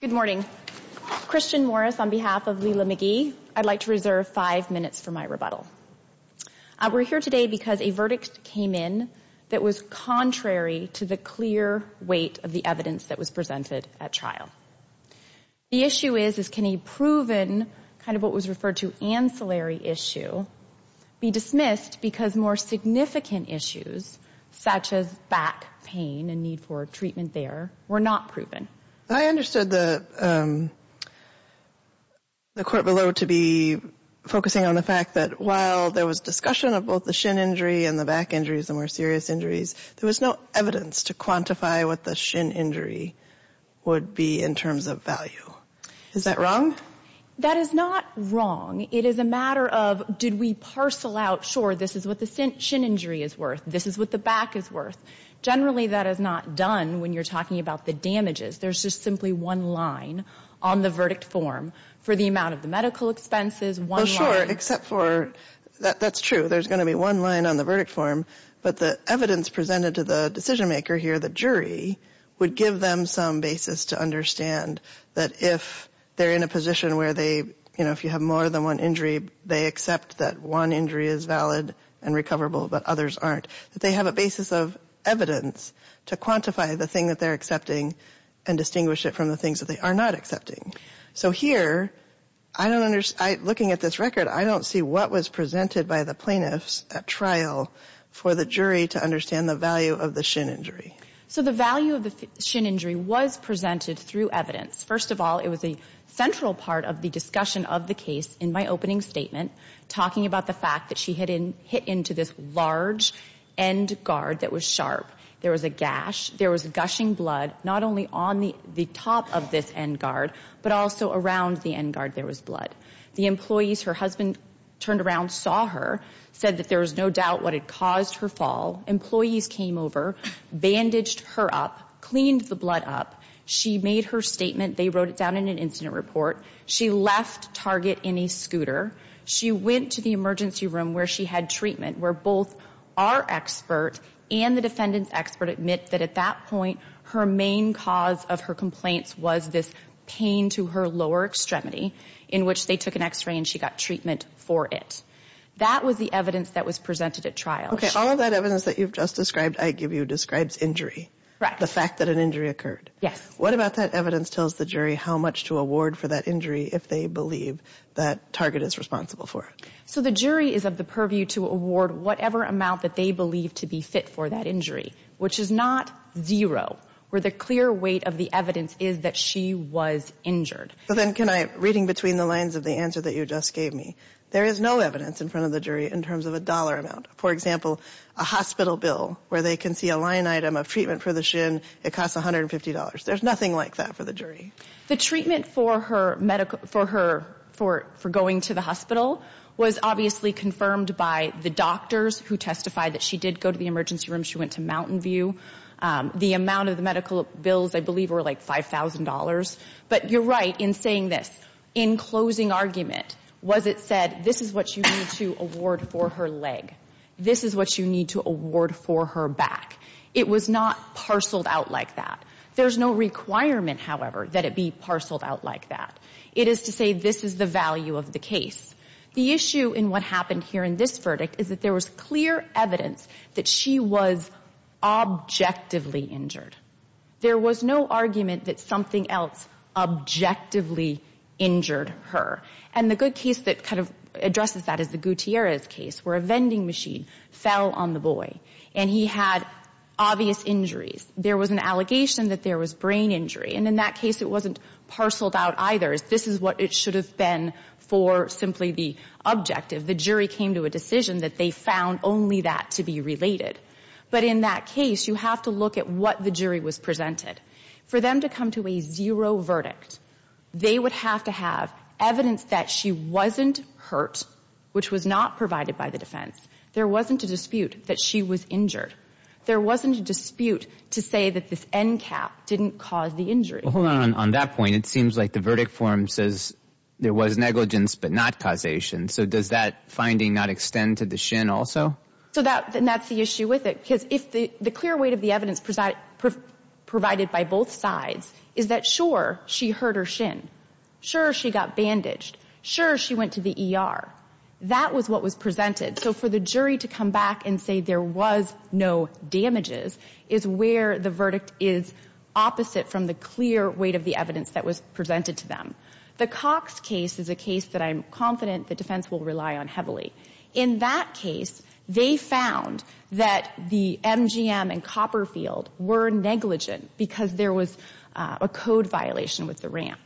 Good morning. Christian Morris on behalf of Lela McGee. I'd like to reserve five minutes for my rebuttal. We're here today because a verdict came in that was contrary to the clear weight of the evidence that was presented at trial. The issue is, is can a proven, kind of what was referred to ancillary issue, be dismissed because more significant issues, such as back pain and need for treatment there, were not proven? I understood the court below to be focusing on the fact that while there was discussion of both the shin injury and the back injuries and more serious injuries, there was no evidence to quantify what the shin injury would be in terms of value. Is that wrong? That is not wrong. It is a matter of did we parcel out, sure, this is what the shin injury is worth, this is what the back is worth. Generally, that is not done when you're talking about the damages. There's just simply one line on the verdict form for the amount of the medical expenses, one line. Well, sure, except for, that's true, there's going to be one line on the verdict form, but the evidence presented to the decision-maker here, the jury, would give them some basis to understand that if they're in a position where they, you know, if you have more than one injury, they accept that one injury is valid and recoverable but others aren't. They have a basis of evidence to quantify the thing that they're accepting and distinguish it from the things that they are not accepting. So here, looking at this record, I don't see what was presented by the plaintiffs at trial for the jury to understand the value of the shin injury. So the value of the shin injury was presented through evidence. First of all, it was a central part of the discussion of the case in my opening statement, talking about the fact that she had hit into this large end guard that was sharp. There was a gash. There was gushing blood not only on the top of this end guard but also around the end guard there was blood. The employees, her husband turned around, saw her, said that there was no doubt what had caused her fall. Employees came over, bandaged her up, cleaned the blood up. She made her statement. They wrote it down in an incident report. She left Target in a scooter. She went to the emergency room where she had treatment, where both our expert and the defendant's expert admit that at that point her main cause of her complaints was this pain to her lower extremity in which they took an X-ray and she got treatment for it. That was the evidence that was presented at trial. Okay. All of that evidence that you've just described, I give you, describes injury. Right. The fact that an injury occurred. Yes. What about that evidence tells the jury how much to award for that injury if they believe that Target is responsible for it? The jury is of the purview to award whatever amount that they believe to be fit for that injury, which is not zero, where the clear weight of the evidence is that she was injured. Then can I, reading between the lines of the answer that you just gave me, there is no evidence in front of the jury in terms of a dollar amount. For example, a hospital bill where they can see a line item of treatment for the shin, it costs $150. There's nothing like that for the jury. The treatment for going to the hospital was obviously confirmed by the doctors who testified that she did go to the emergency room. She went to Mountain View. The amount of the medical bills, I believe, were like $5,000. But you're right in saying this. In closing argument, was it said, this is what you need to award for her leg. This is what you need to award for her back. It was not parceled out like that. There's no requirement, however, that it be parceled out like that. It is to say this is the value of the case. The issue in what happened here in this verdict is that there was clear evidence that she was objectively injured. There was no argument that something else objectively injured her. And the good case that kind of addresses that is the Gutierrez case where a vending machine fell on the boy, and he had obvious injuries. There was an allegation that there was brain injury, and in that case it wasn't parceled out either. This is what it should have been for simply the objective. The jury came to a decision that they found only that to be related. But in that case, you have to look at what the jury was presented. For them to come to a zero verdict, they would have to have evidence that she wasn't hurt, which was not provided by the defense. There wasn't a dispute that she was injured. There wasn't a dispute to say that this end cap didn't cause the injury. Well, hold on. On that point, it seems like the verdict form says there was negligence but not causation. So does that finding not extend to the shin also? And that's the issue with it, because the clear weight of the evidence provided by both sides is that, sure, she hurt her shin. Sure, she got bandaged. Sure, she went to the ER. That was what was presented. So for the jury to come back and say there was no damages is where the verdict is opposite from the clear weight of the evidence that was presented to them. The Cox case is a case that I'm confident the defense will rely on heavily. In that case, they found that the MGM and Copperfield were negligent because there was a code violation with the ramp.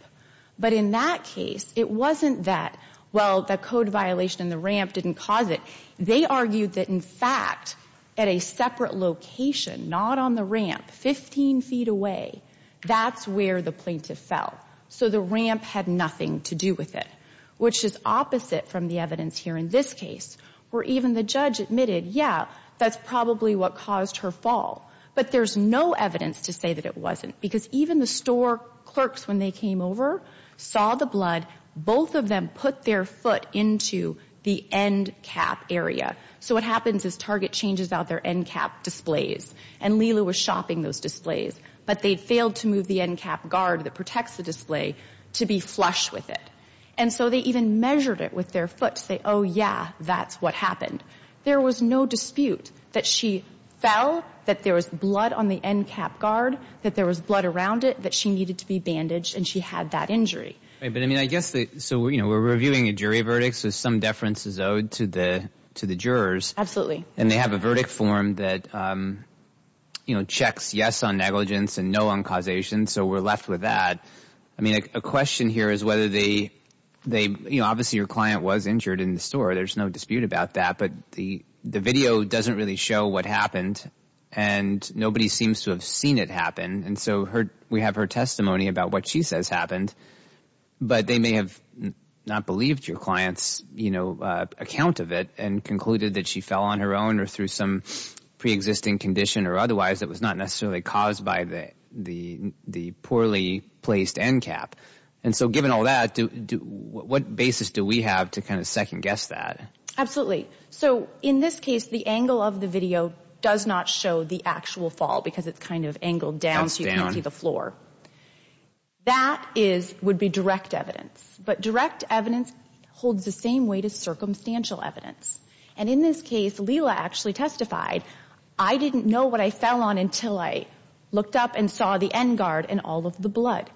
But in that case, it wasn't that, well, the code violation and the ramp didn't cause it. They argued that, in fact, at a separate location, not on the ramp, 15 feet away, that's where the plaintiff fell. So the ramp had nothing to do with it, which is opposite from the evidence here in this case where even the judge admitted, yeah, that's probably what caused her fall. But there's no evidence to say that it wasn't because even the store clerks, when they came over, saw the blood. Both of them put their foot into the end cap area. So what happens is Target changes out their end cap displays, and Lila was shopping those displays. But they failed to move the end cap guard that protects the display to be flush with it. And so they even measured it with their foot to say, oh, yeah, that's what happened. There was no dispute that she fell, that there was blood on the end cap guard, that there was blood around it, that she needed to be bandaged, and she had that injury. But, I mean, I guess we're reviewing a jury verdict, so some deference is owed to the jurors. And they have a verdict form that checks yes on negligence and no on causation, so we're left with that. I mean, a question here is whether they, you know, obviously your client was injured in the store. There's no dispute about that. But the video doesn't really show what happened, and nobody seems to have seen it happen. And so we have her testimony about what she says happened. But they may have not believed your client's, you know, account of it and concluded that she fell on her own or through some preexisting condition or otherwise that was not necessarily caused by the poorly placed end cap. And so given all that, what basis do we have to kind of second guess that? Absolutely. So in this case, the angle of the video does not show the actual fall because it's kind of angled down so you can't see the floor. That would be direct evidence. But direct evidence holds the same weight as circumstantial evidence. And in this case, Leila actually testified, I didn't know what I fell on until I looked up and saw the end guard and all of the blood.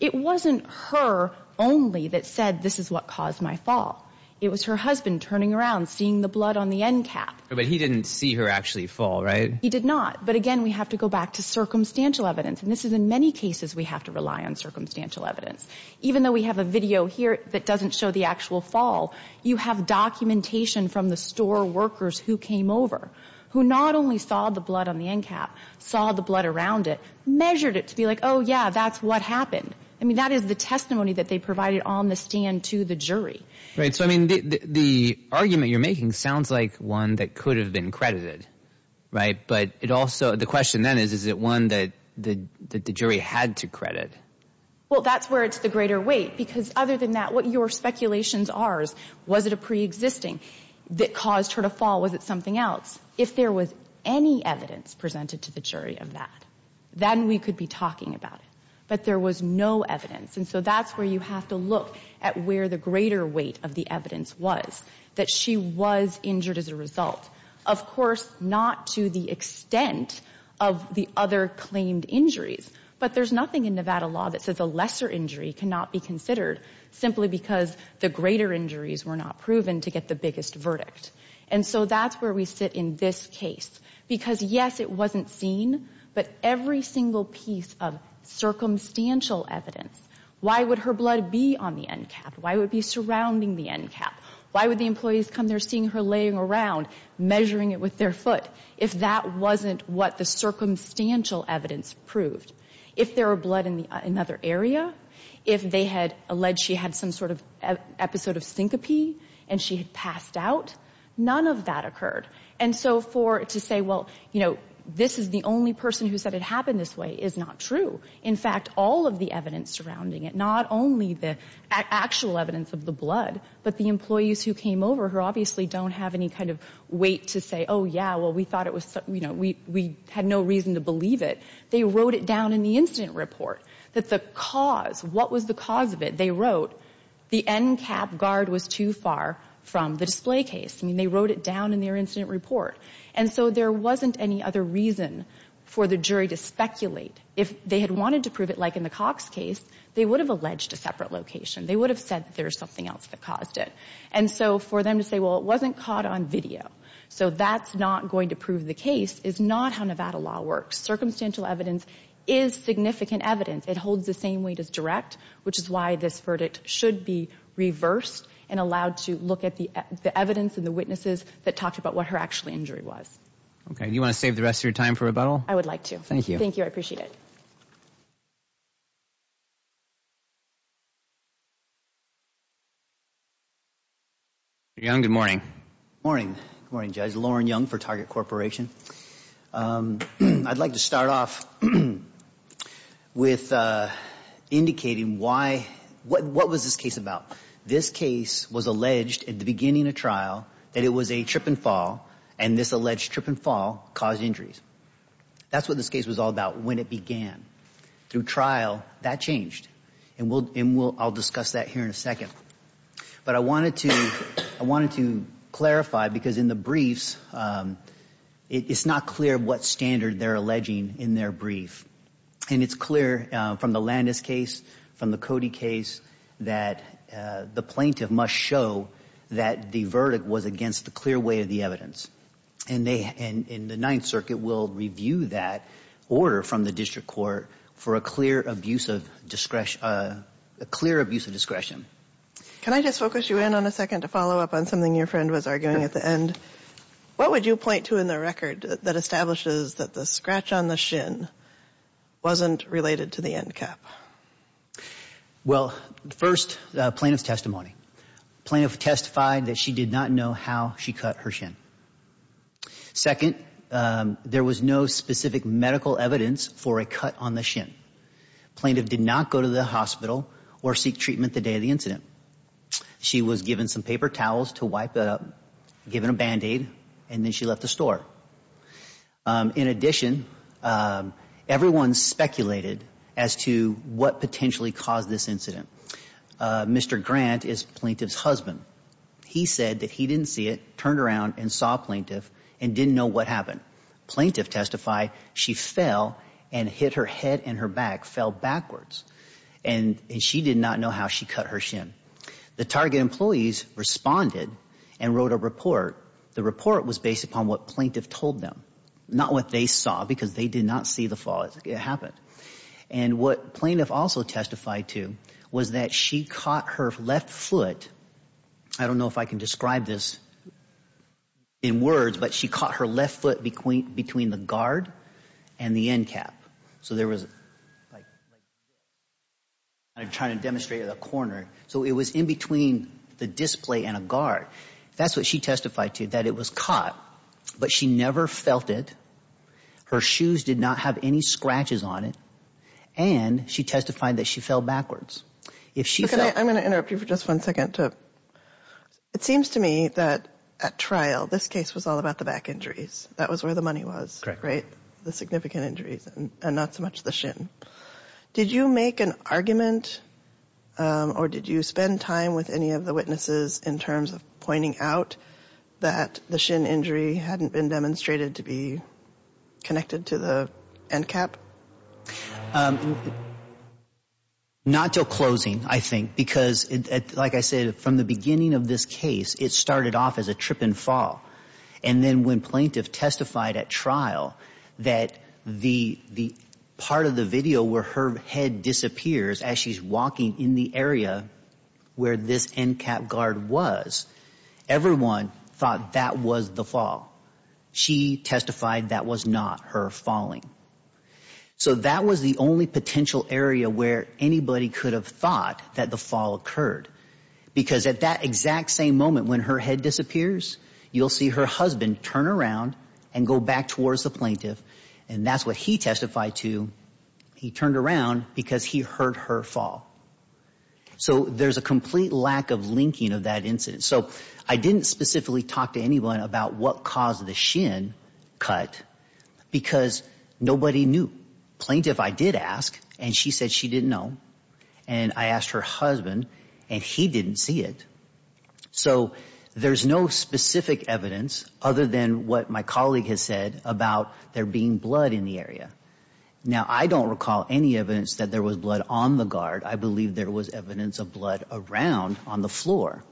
It wasn't her only that said this is what caused my fall. It was her husband turning around, seeing the blood on the end cap. But he didn't see her actually fall, right? He did not. But again, we have to go back to circumstantial evidence. And this is in many cases we have to rely on circumstantial evidence. Even though we have a video here that doesn't show the actual fall, you have documentation from the store workers who came over, who not only saw the blood on the end cap, saw the blood around it, measured it to be like, oh, yeah, that's what happened. I mean, that is the testimony that they provided on the stand to the jury. Right. So, I mean, the argument you're making sounds like one that could have been credited, right? But it also, the question then is, is it one that the jury had to credit? Well, that's where it's the greater weight. Because other than that, what your speculations are is was it a preexisting that caused her to fall? Was it something else? If there was any evidence presented to the jury of that, then we could be talking about it. But there was no evidence. And so that's where you have to look at where the greater weight of the evidence was, that she was injured as a result. Of course, not to the extent of the other claimed injuries. But there's nothing in Nevada law that says a lesser injury cannot be considered simply because the greater injuries were not proven to get the biggest verdict. And so that's where we sit in this case. Because, yes, it wasn't seen, but every single piece of circumstantial evidence, why would her blood be on the end cap? Why would it be surrounding the end cap? Why would the employees come there seeing her laying around, measuring it with their foot, if that wasn't what the circumstantial evidence proved? If there were blood in another area, if they had alleged she had some sort of episode of syncope and she had passed out, none of that occurred. And so to say, well, this is the only person who said it happened this way, is not true. In fact, all of the evidence surrounding it, not only the actual evidence of the blood, but the employees who came over who obviously don't have any kind of weight to say, oh, yeah, well, we had no reason to believe it. They wrote it down in the incident report that the cause, what was the cause of it? They wrote the end cap guard was too far from the display case. I mean, they wrote it down in their incident report. And so there wasn't any other reason for the jury to speculate. If they had wanted to prove it like in the Cox case, they would have alleged a separate location. They would have said that there was something else that caused it. And so for them to say, well, it wasn't caught on video, so that's not going to prove the case, is not how Nevada law works. Circumstantial evidence is significant evidence. It holds the same weight as direct, which is why this verdict should be reversed and allowed to look at the evidence and the witnesses that talked about what her actual injury was. Okay. Do you want to save the rest of your time for rebuttal? I would like to. Thank you. Thank you. I appreciate it. Good morning. Morning. Good morning, Judge. Lauren Young for Target Corporation. I'd like to start off with indicating why, what was this case about? This case was alleged at the beginning of trial that it was a trip and fall, and this alleged trip and fall caused injuries. That's what this case was all about when it began. Through trial, that changed. And I'll discuss that here in a second. But I wanted to clarify because in the briefs, it's not clear what standard they're alleging in their brief. And it's clear from the Landis case, from the Cody case, that the plaintiff must show that the verdict was against a clear way of the evidence. And they, in the Ninth Circuit, will review that order from the district court for a clear abuse of discretion. Can I just focus you in on a second to follow up on something your friend was arguing at the end? What would you point to in the record that establishes that the scratch on the shin wasn't related to the end cap? Well, first, the plaintiff's testimony. The plaintiff testified that she did not know how she cut her shin. Second, there was no specific medical evidence for a cut on the shin. The plaintiff did not go to the hospital or seek treatment the day of the incident. She was given some paper towels to wipe it up, given a Band-Aid, and then she left the store. In addition, everyone speculated as to what potentially caused this incident. Mr. Grant is plaintiff's husband. He said that he didn't see it, turned around and saw plaintiff, and didn't know what happened. Plaintiff testified she fell and hit her head and her back, fell backwards. And she did not know how she cut her shin. The target employees responded and wrote a report. The report was based upon what plaintiff told them, not what they saw because they did not see the fall as it happened. And what plaintiff also testified to was that she caught her left foot. I don't know if I can describe this in words, but she caught her left foot between the guard and the end cap. So there was like, I'm trying to demonstrate a corner. So it was in between the display and a guard. That's what she testified to, that it was caught, but she never felt it. Her shoes did not have any scratches on it. And she testified that she fell backwards. I'm going to interrupt you for just one second. It seems to me that at trial, this case was all about the back injuries. That was where the money was, right? The significant injuries and not so much the shin. Did you make an argument or did you spend time with any of the witnesses in terms of pointing out that the shin injury hadn't been demonstrated to be connected to the end cap? Not until closing, I think, because like I said, from the beginning of this case, it started off as a trip and fall. And then when plaintiff testified at trial that the part of the video where her head disappears as she's walking in the area where this end cap guard was, everyone thought that was the fall. She testified that was not her falling. So that was the only potential area where anybody could have thought that the fall occurred. Because at that exact same moment when her head disappears, you'll see her husband turn around and go back towards the plaintiff. And that's what he testified to. He turned around because he heard her fall. So there's a complete lack of linking of that incident. So I didn't specifically talk to anyone about what caused the shin cut because nobody knew. Plaintiff I did ask, and she said she didn't know. And I asked her husband, and he didn't see it. So there's no specific evidence other than what my colleague has said about there being blood in the area. Now, I don't recall any evidence that there was blood on the guard. I believe there was evidence of blood around on the floor.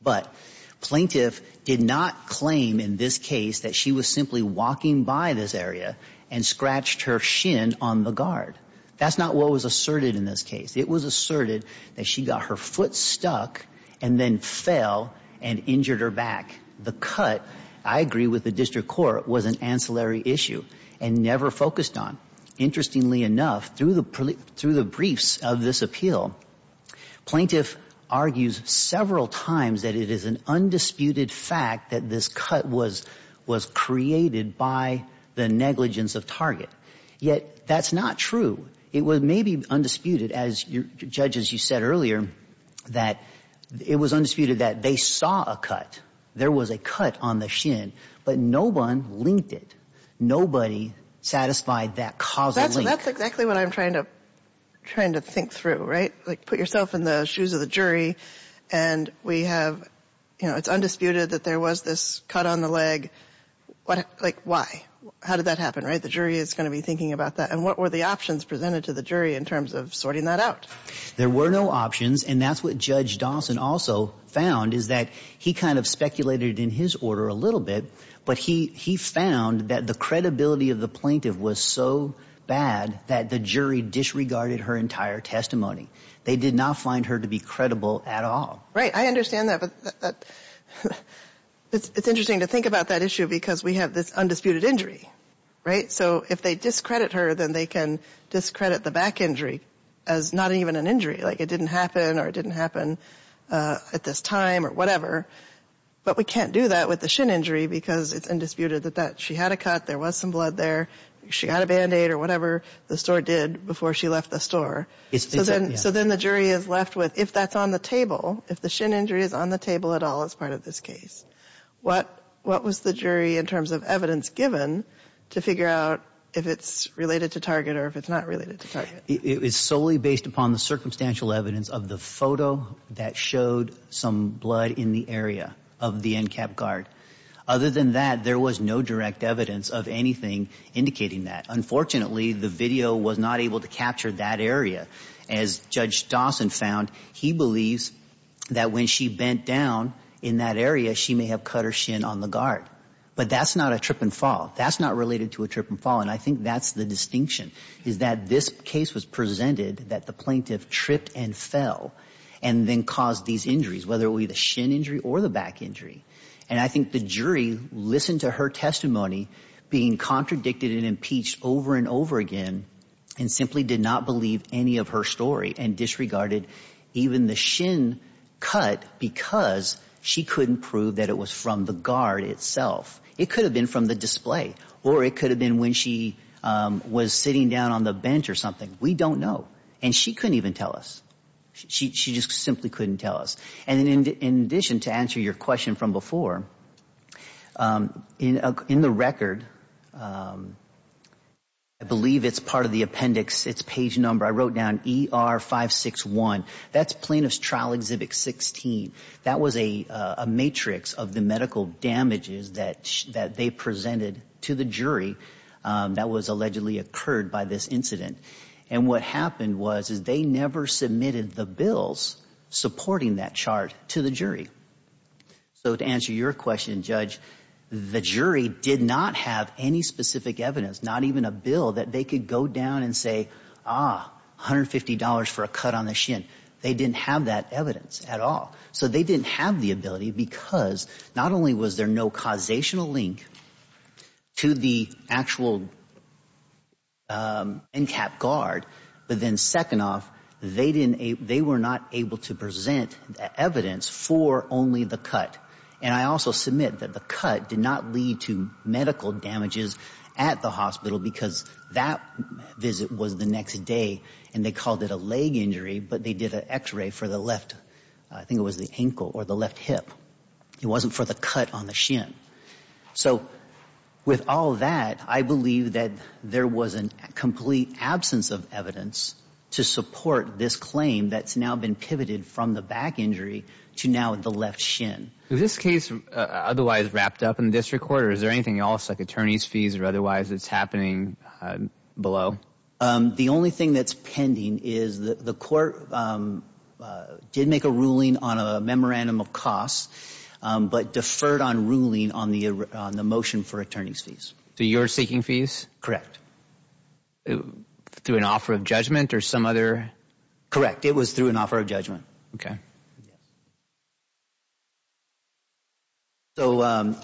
But plaintiff did not claim in this case that she was simply walking by this area and scratched her shin on the guard. That's not what was asserted in this case. It was asserted that she got her foot stuck and then fell and injured her back. The cut, I agree with the district court, was an ancillary issue and never focused on. Interestingly enough, through the briefs of this appeal, plaintiff argues several times that it is an undisputed fact that this cut was created by the negligence of target. Yet that's not true. It was maybe undisputed, as judges, you said earlier, that it was undisputed that they saw a cut. There was a cut on the shin, but no one linked it. Nobody satisfied that causal link. That's exactly what I'm trying to think through, right? Like, put yourself in the shoes of the jury, and we have, you know, it's undisputed that there was this cut on the leg. Like, why? How did that happen, right? The jury is going to be thinking about that. And what were the options presented to the jury in terms of sorting that out? There were no options, and that's what Judge Dawson also found, is that he kind of speculated in his order a little bit, but he found that the credibility of the plaintiff was so bad that the jury disregarded her entire testimony. They did not find her to be credible at all. Right, I understand that, but it's interesting to think about that issue because we have this undisputed injury, right? So if they discredit her, then they can discredit the back injury as not even an injury, like it didn't happen or it didn't happen at this time or whatever. But we can't do that with the shin injury because it's undisputed that she had a cut, there was some blood there, she had a Band-Aid or whatever the store did before she left the store. So then the jury is left with, if that's on the table, if the shin injury is on the table at all as part of this case, what was the jury in terms of evidence given to figure out if it's related to target or if it's not related to target? It was solely based upon the circumstantial evidence of the photo that showed some blood in the area of the end cap guard. Other than that, there was no direct evidence of anything indicating that. Unfortunately, the video was not able to capture that area. As Judge Dawson found, he believes that when she bent down in that area, she may have cut her shin on the guard. But that's not a trip and fall. That's not related to a trip and fall. And I think that's the distinction, is that this case was presented that the plaintiff tripped and fell and then caused these injuries, whether it be the shin injury or the back injury. And I think the jury listened to her testimony being contradicted and impeached over and over again and simply did not believe any of her story and disregarded even the shin cut because she couldn't prove that it was from the guard itself. It could have been from the display or it could have been when she was sitting down on the bench or something. We don't know. And she couldn't even tell us. She just simply couldn't tell us. And in addition, to answer your question from before, in the record, I believe it's part of the appendix, it's page number, I wrote down ER561. That's Plaintiff's Trial Exhibit 16. That was a matrix of the medical damages that they presented to the jury that was allegedly occurred by this incident. And what happened was is they never submitted the bills supporting that chart to the jury. So to answer your question, Judge, the jury did not have any specific evidence, not even a bill, that they could go down and say, ah, $150 for a cut on the shin. They didn't have that evidence at all. So they didn't have the ability because not only was there no causational link to the actual incap guard, but then second off, they were not able to present evidence for only the cut. And I also submit that the cut did not lead to medical damages at the hospital because that visit was the next day and they called it a leg injury. But they did an x-ray for the left, I think it was the ankle or the left hip. It wasn't for the cut on the shin. So with all that, I believe that there was a complete absence of evidence to support this claim that's now been pivoted from the back injury to now the left shin. Is this case otherwise wrapped up in the district court or is there anything else like attorney's fees or otherwise that's happening below? The only thing that's pending is the court did make a ruling on a memorandum of costs, but deferred on ruling on the motion for attorney's fees. So you're seeking fees? Correct. Through an offer of judgment or some other? Correct. It was through an offer of judgment. Okay. Yes. So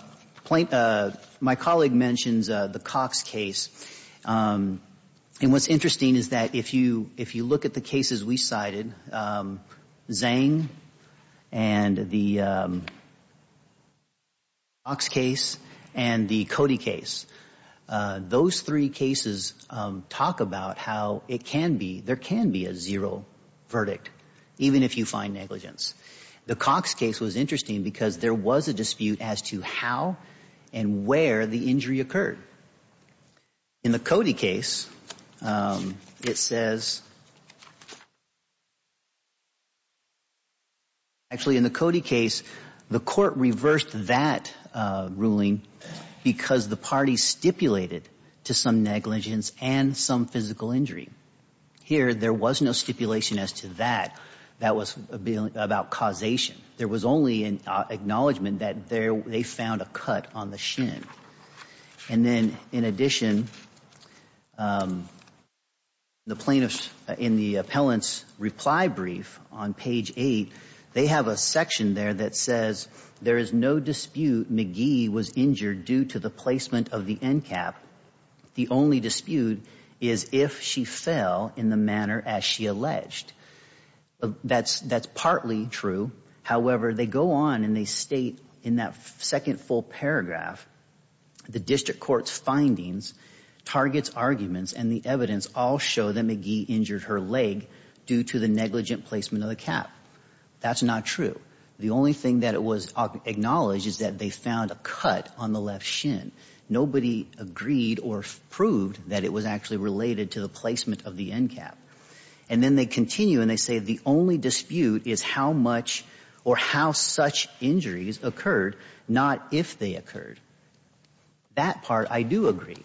my colleague mentions the Cox case. And what's interesting is that if you look at the cases we cited, Zhang and the Cox case and the Cody case, those three cases talk about how it can be, there can be a zero verdict, even if you find negligence. The Cox case was interesting because there was a dispute as to how and where the injury occurred. In the Cody case, it says, actually, in the Cody case, the court reversed that ruling because the party stipulated to some negligence and some physical injury. Here, there was no stipulation as to that. That was about causation. There was only an acknowledgment that they found a cut on the shin. And then, in addition, the plaintiff, in the appellant's reply brief on page 8, they have a section there that says, there is no dispute McGee was injured due to the placement of the end cap. The only dispute is if she fell in the manner as she alleged. That's partly true. However, they go on and they state in that second full paragraph, the district court's findings, target's arguments, and the evidence all show that McGee injured her leg due to the negligent placement of the cap. That's not true. The only thing that it was acknowledged is that they found a cut on the left shin. Nobody agreed or proved that it was actually related to the placement of the end cap. And then they continue and they say the only dispute is how much or how such injuries occurred, not if they occurred. That part, I do agree.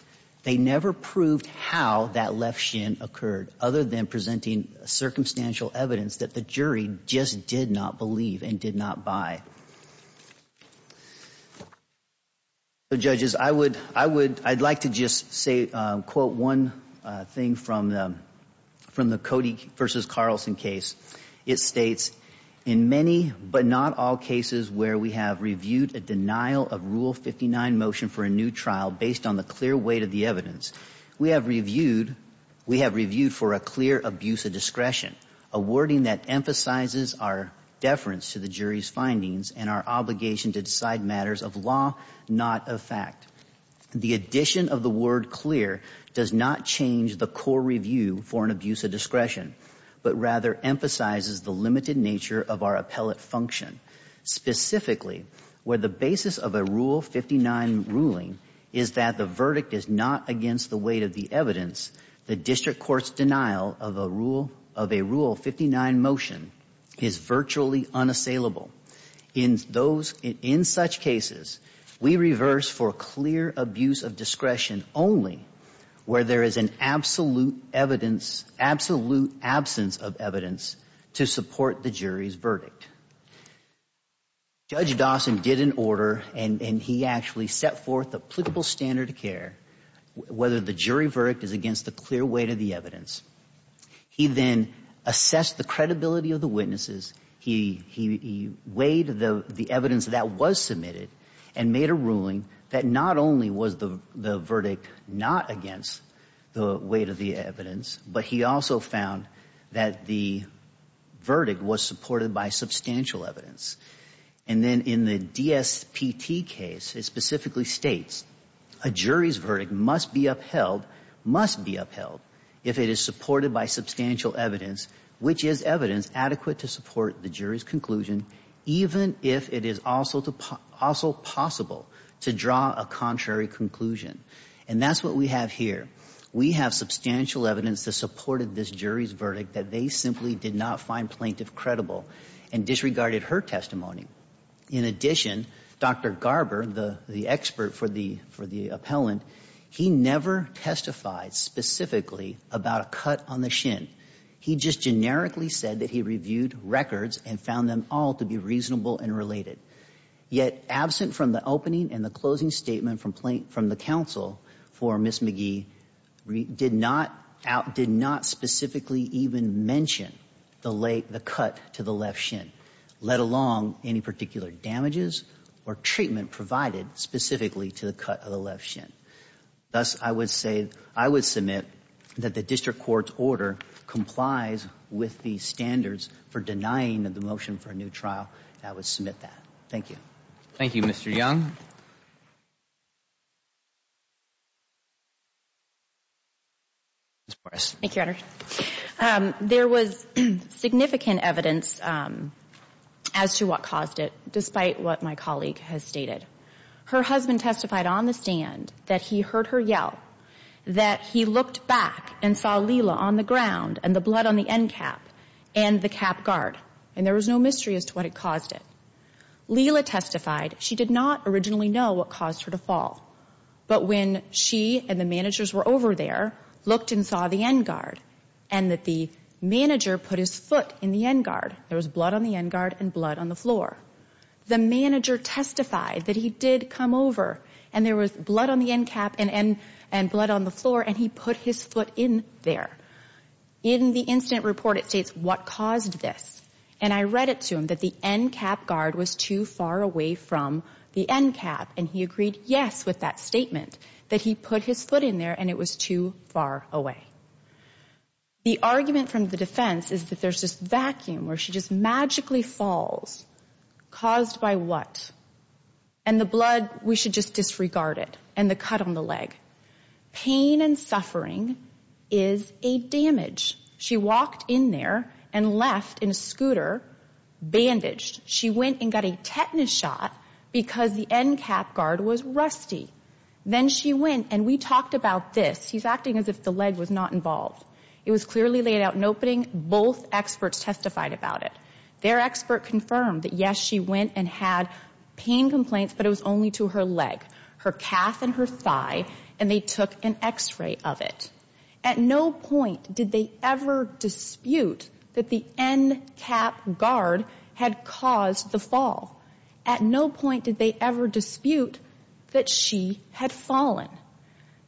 They never proved how that left shin occurred, other than presenting circumstantial evidence that the jury just did not believe and did not buy. So, judges, I would I would I'd like to just say, quote, one thing from the from the Cody versus Carlson case. It states in many but not all cases where we have reviewed a denial of Rule 59 motion for a new trial based on the clear weight of the evidence. We have reviewed we have reviewed for a clear abuse of discretion, a wording that emphasizes our deference to the jury's findings and our obligation to decide matters of law, not of fact. The addition of the word clear does not change the core review for an abuse of discretion, but rather emphasizes the limited nature of our appellate function, specifically where the basis of a Rule 59 ruling is that the verdict is not against the weight of the evidence. The district court's denial of a rule of a Rule 59 motion is virtually unassailable in those. In such cases, we reverse for clear abuse of discretion only where there is an absolute evidence, absolute absence of evidence to support the jury's verdict. Judge Dawson did an order and he actually set forth applicable standard of care, whether the jury verdict is against the clear weight of the evidence. He then assessed the credibility of the witnesses. He weighed the evidence that was submitted and made a ruling that not only was the verdict not against the weight of the evidence, but he also found that the verdict was supported by substantial evidence. And then in the DSPT case, it specifically states a jury's verdict must be upheld, must be upheld if it is supported by substantial evidence, which is evidence adequate to support the jury's conclusion, even if it is also possible to draw a contrary conclusion. And that's what we have here. We have substantial evidence that supported this jury's verdict that they simply did not find plaintiff credible and disregarded her testimony. In addition, Dr. Garber, the expert for the appellant, he never testified specifically about a cut on the shin. He just generically said that he reviewed records and found them all to be reasonable and related. Yet, absent from the opening and the closing statement from the counsel for Ms. McGee, did not specifically even mention the cut to the left shin, let alone any particular damages or treatment provided specifically to the cut of the left shin. Thus, I would say, I would submit that the district court's order complies with the standards for denying the motion for a new trial. I would submit that. Thank you. Thank you, Mr. Young. Ms. Morris. Thank you, Your Honor. There was significant evidence as to what caused it, despite what my colleague has stated. Her husband testified on the stand that he heard her yell, that he looked back and saw Lila on the ground and the blood on the end cap and the cap guard. And there was no mystery as to what had caused it. Lila testified she did not originally know what caused her to fall. But when she and the managers were over there, looked and saw the end guard, and that the manager put his foot in the end guard, there was blood on the end guard and blood on the floor. The manager testified that he did come over and there was blood on the end cap and blood on the floor, and he put his foot in there. In the incident report, it states what caused this. And I read it to him that the end cap guard was too far away from the end cap. And he agreed yes with that statement, that he put his foot in there and it was too far away. The argument from the defense is that there's this vacuum where she just magically falls. Caused by what? And the blood, we should just disregard it. And the cut on the leg. Pain and suffering is a damage. She walked in there and left in a scooter, bandaged. She went and got a tetanus shot because the end cap guard was rusty. Then she went and we talked about this. He's acting as if the leg was not involved. It was clearly laid out in opening. Both experts testified about it. Their expert confirmed that, yes, she went and had pain complaints, but it was only to her leg. Her calf and her thigh, and they took an x-ray of it. At no point did they ever dispute that the end cap guard had caused the fall. At no point did they ever dispute that she had fallen.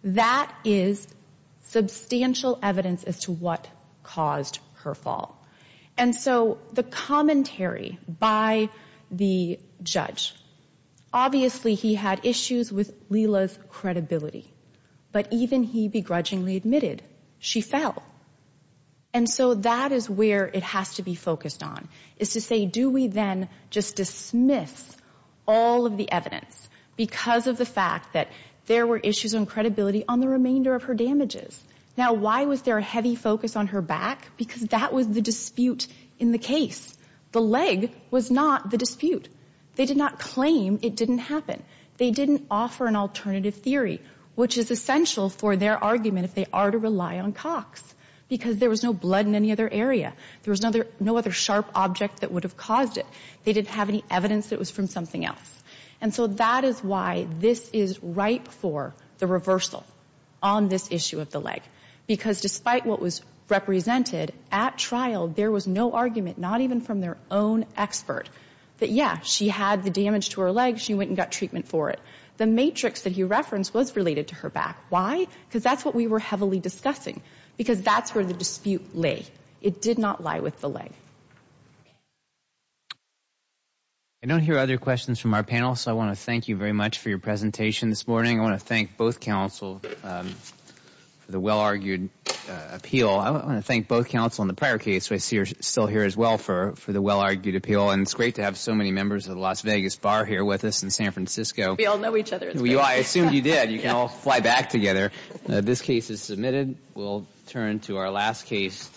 That is substantial evidence as to what caused her fall. And so the commentary by the judge. Obviously, he had issues with Lila's credibility. But even he begrudgingly admitted she fell. And so that is where it has to be focused on. Is to say, do we then just dismiss all of the evidence because of the fact that there were issues on credibility on the remainder of her damages? Now, why was there a heavy focus on her back? Because that was the dispute in the case. The leg was not the dispute. They did not claim it didn't happen. They didn't offer an alternative theory, which is essential for their argument if they are to rely on Cox. Because there was no blood in any other area. There was no other sharp object that would have caused it. They didn't have any evidence that it was from something else. And so that is why this is ripe for the reversal on this issue of the leg. Because despite what was represented at trial, there was no argument, not even from their own expert, that, yeah, she had the damage to her leg. She went and got treatment for it. The matrix that he referenced was related to her back. Why? Because that's what we were heavily discussing. Because that's where the dispute lay. It did not lie with the leg. I don't hear other questions from our panel, so I want to thank you very much for your presentation this morning. I want to thank both counsel for the well-argued appeal. I want to thank both counsel in the prior case. I see you're still here as well for the well-argued appeal. And it's great to have so many members of the Las Vegas Bar here with us in San Francisco. We all know each other. I assumed you did. You can all fly back together. This case is submitted. We'll turn to our last case.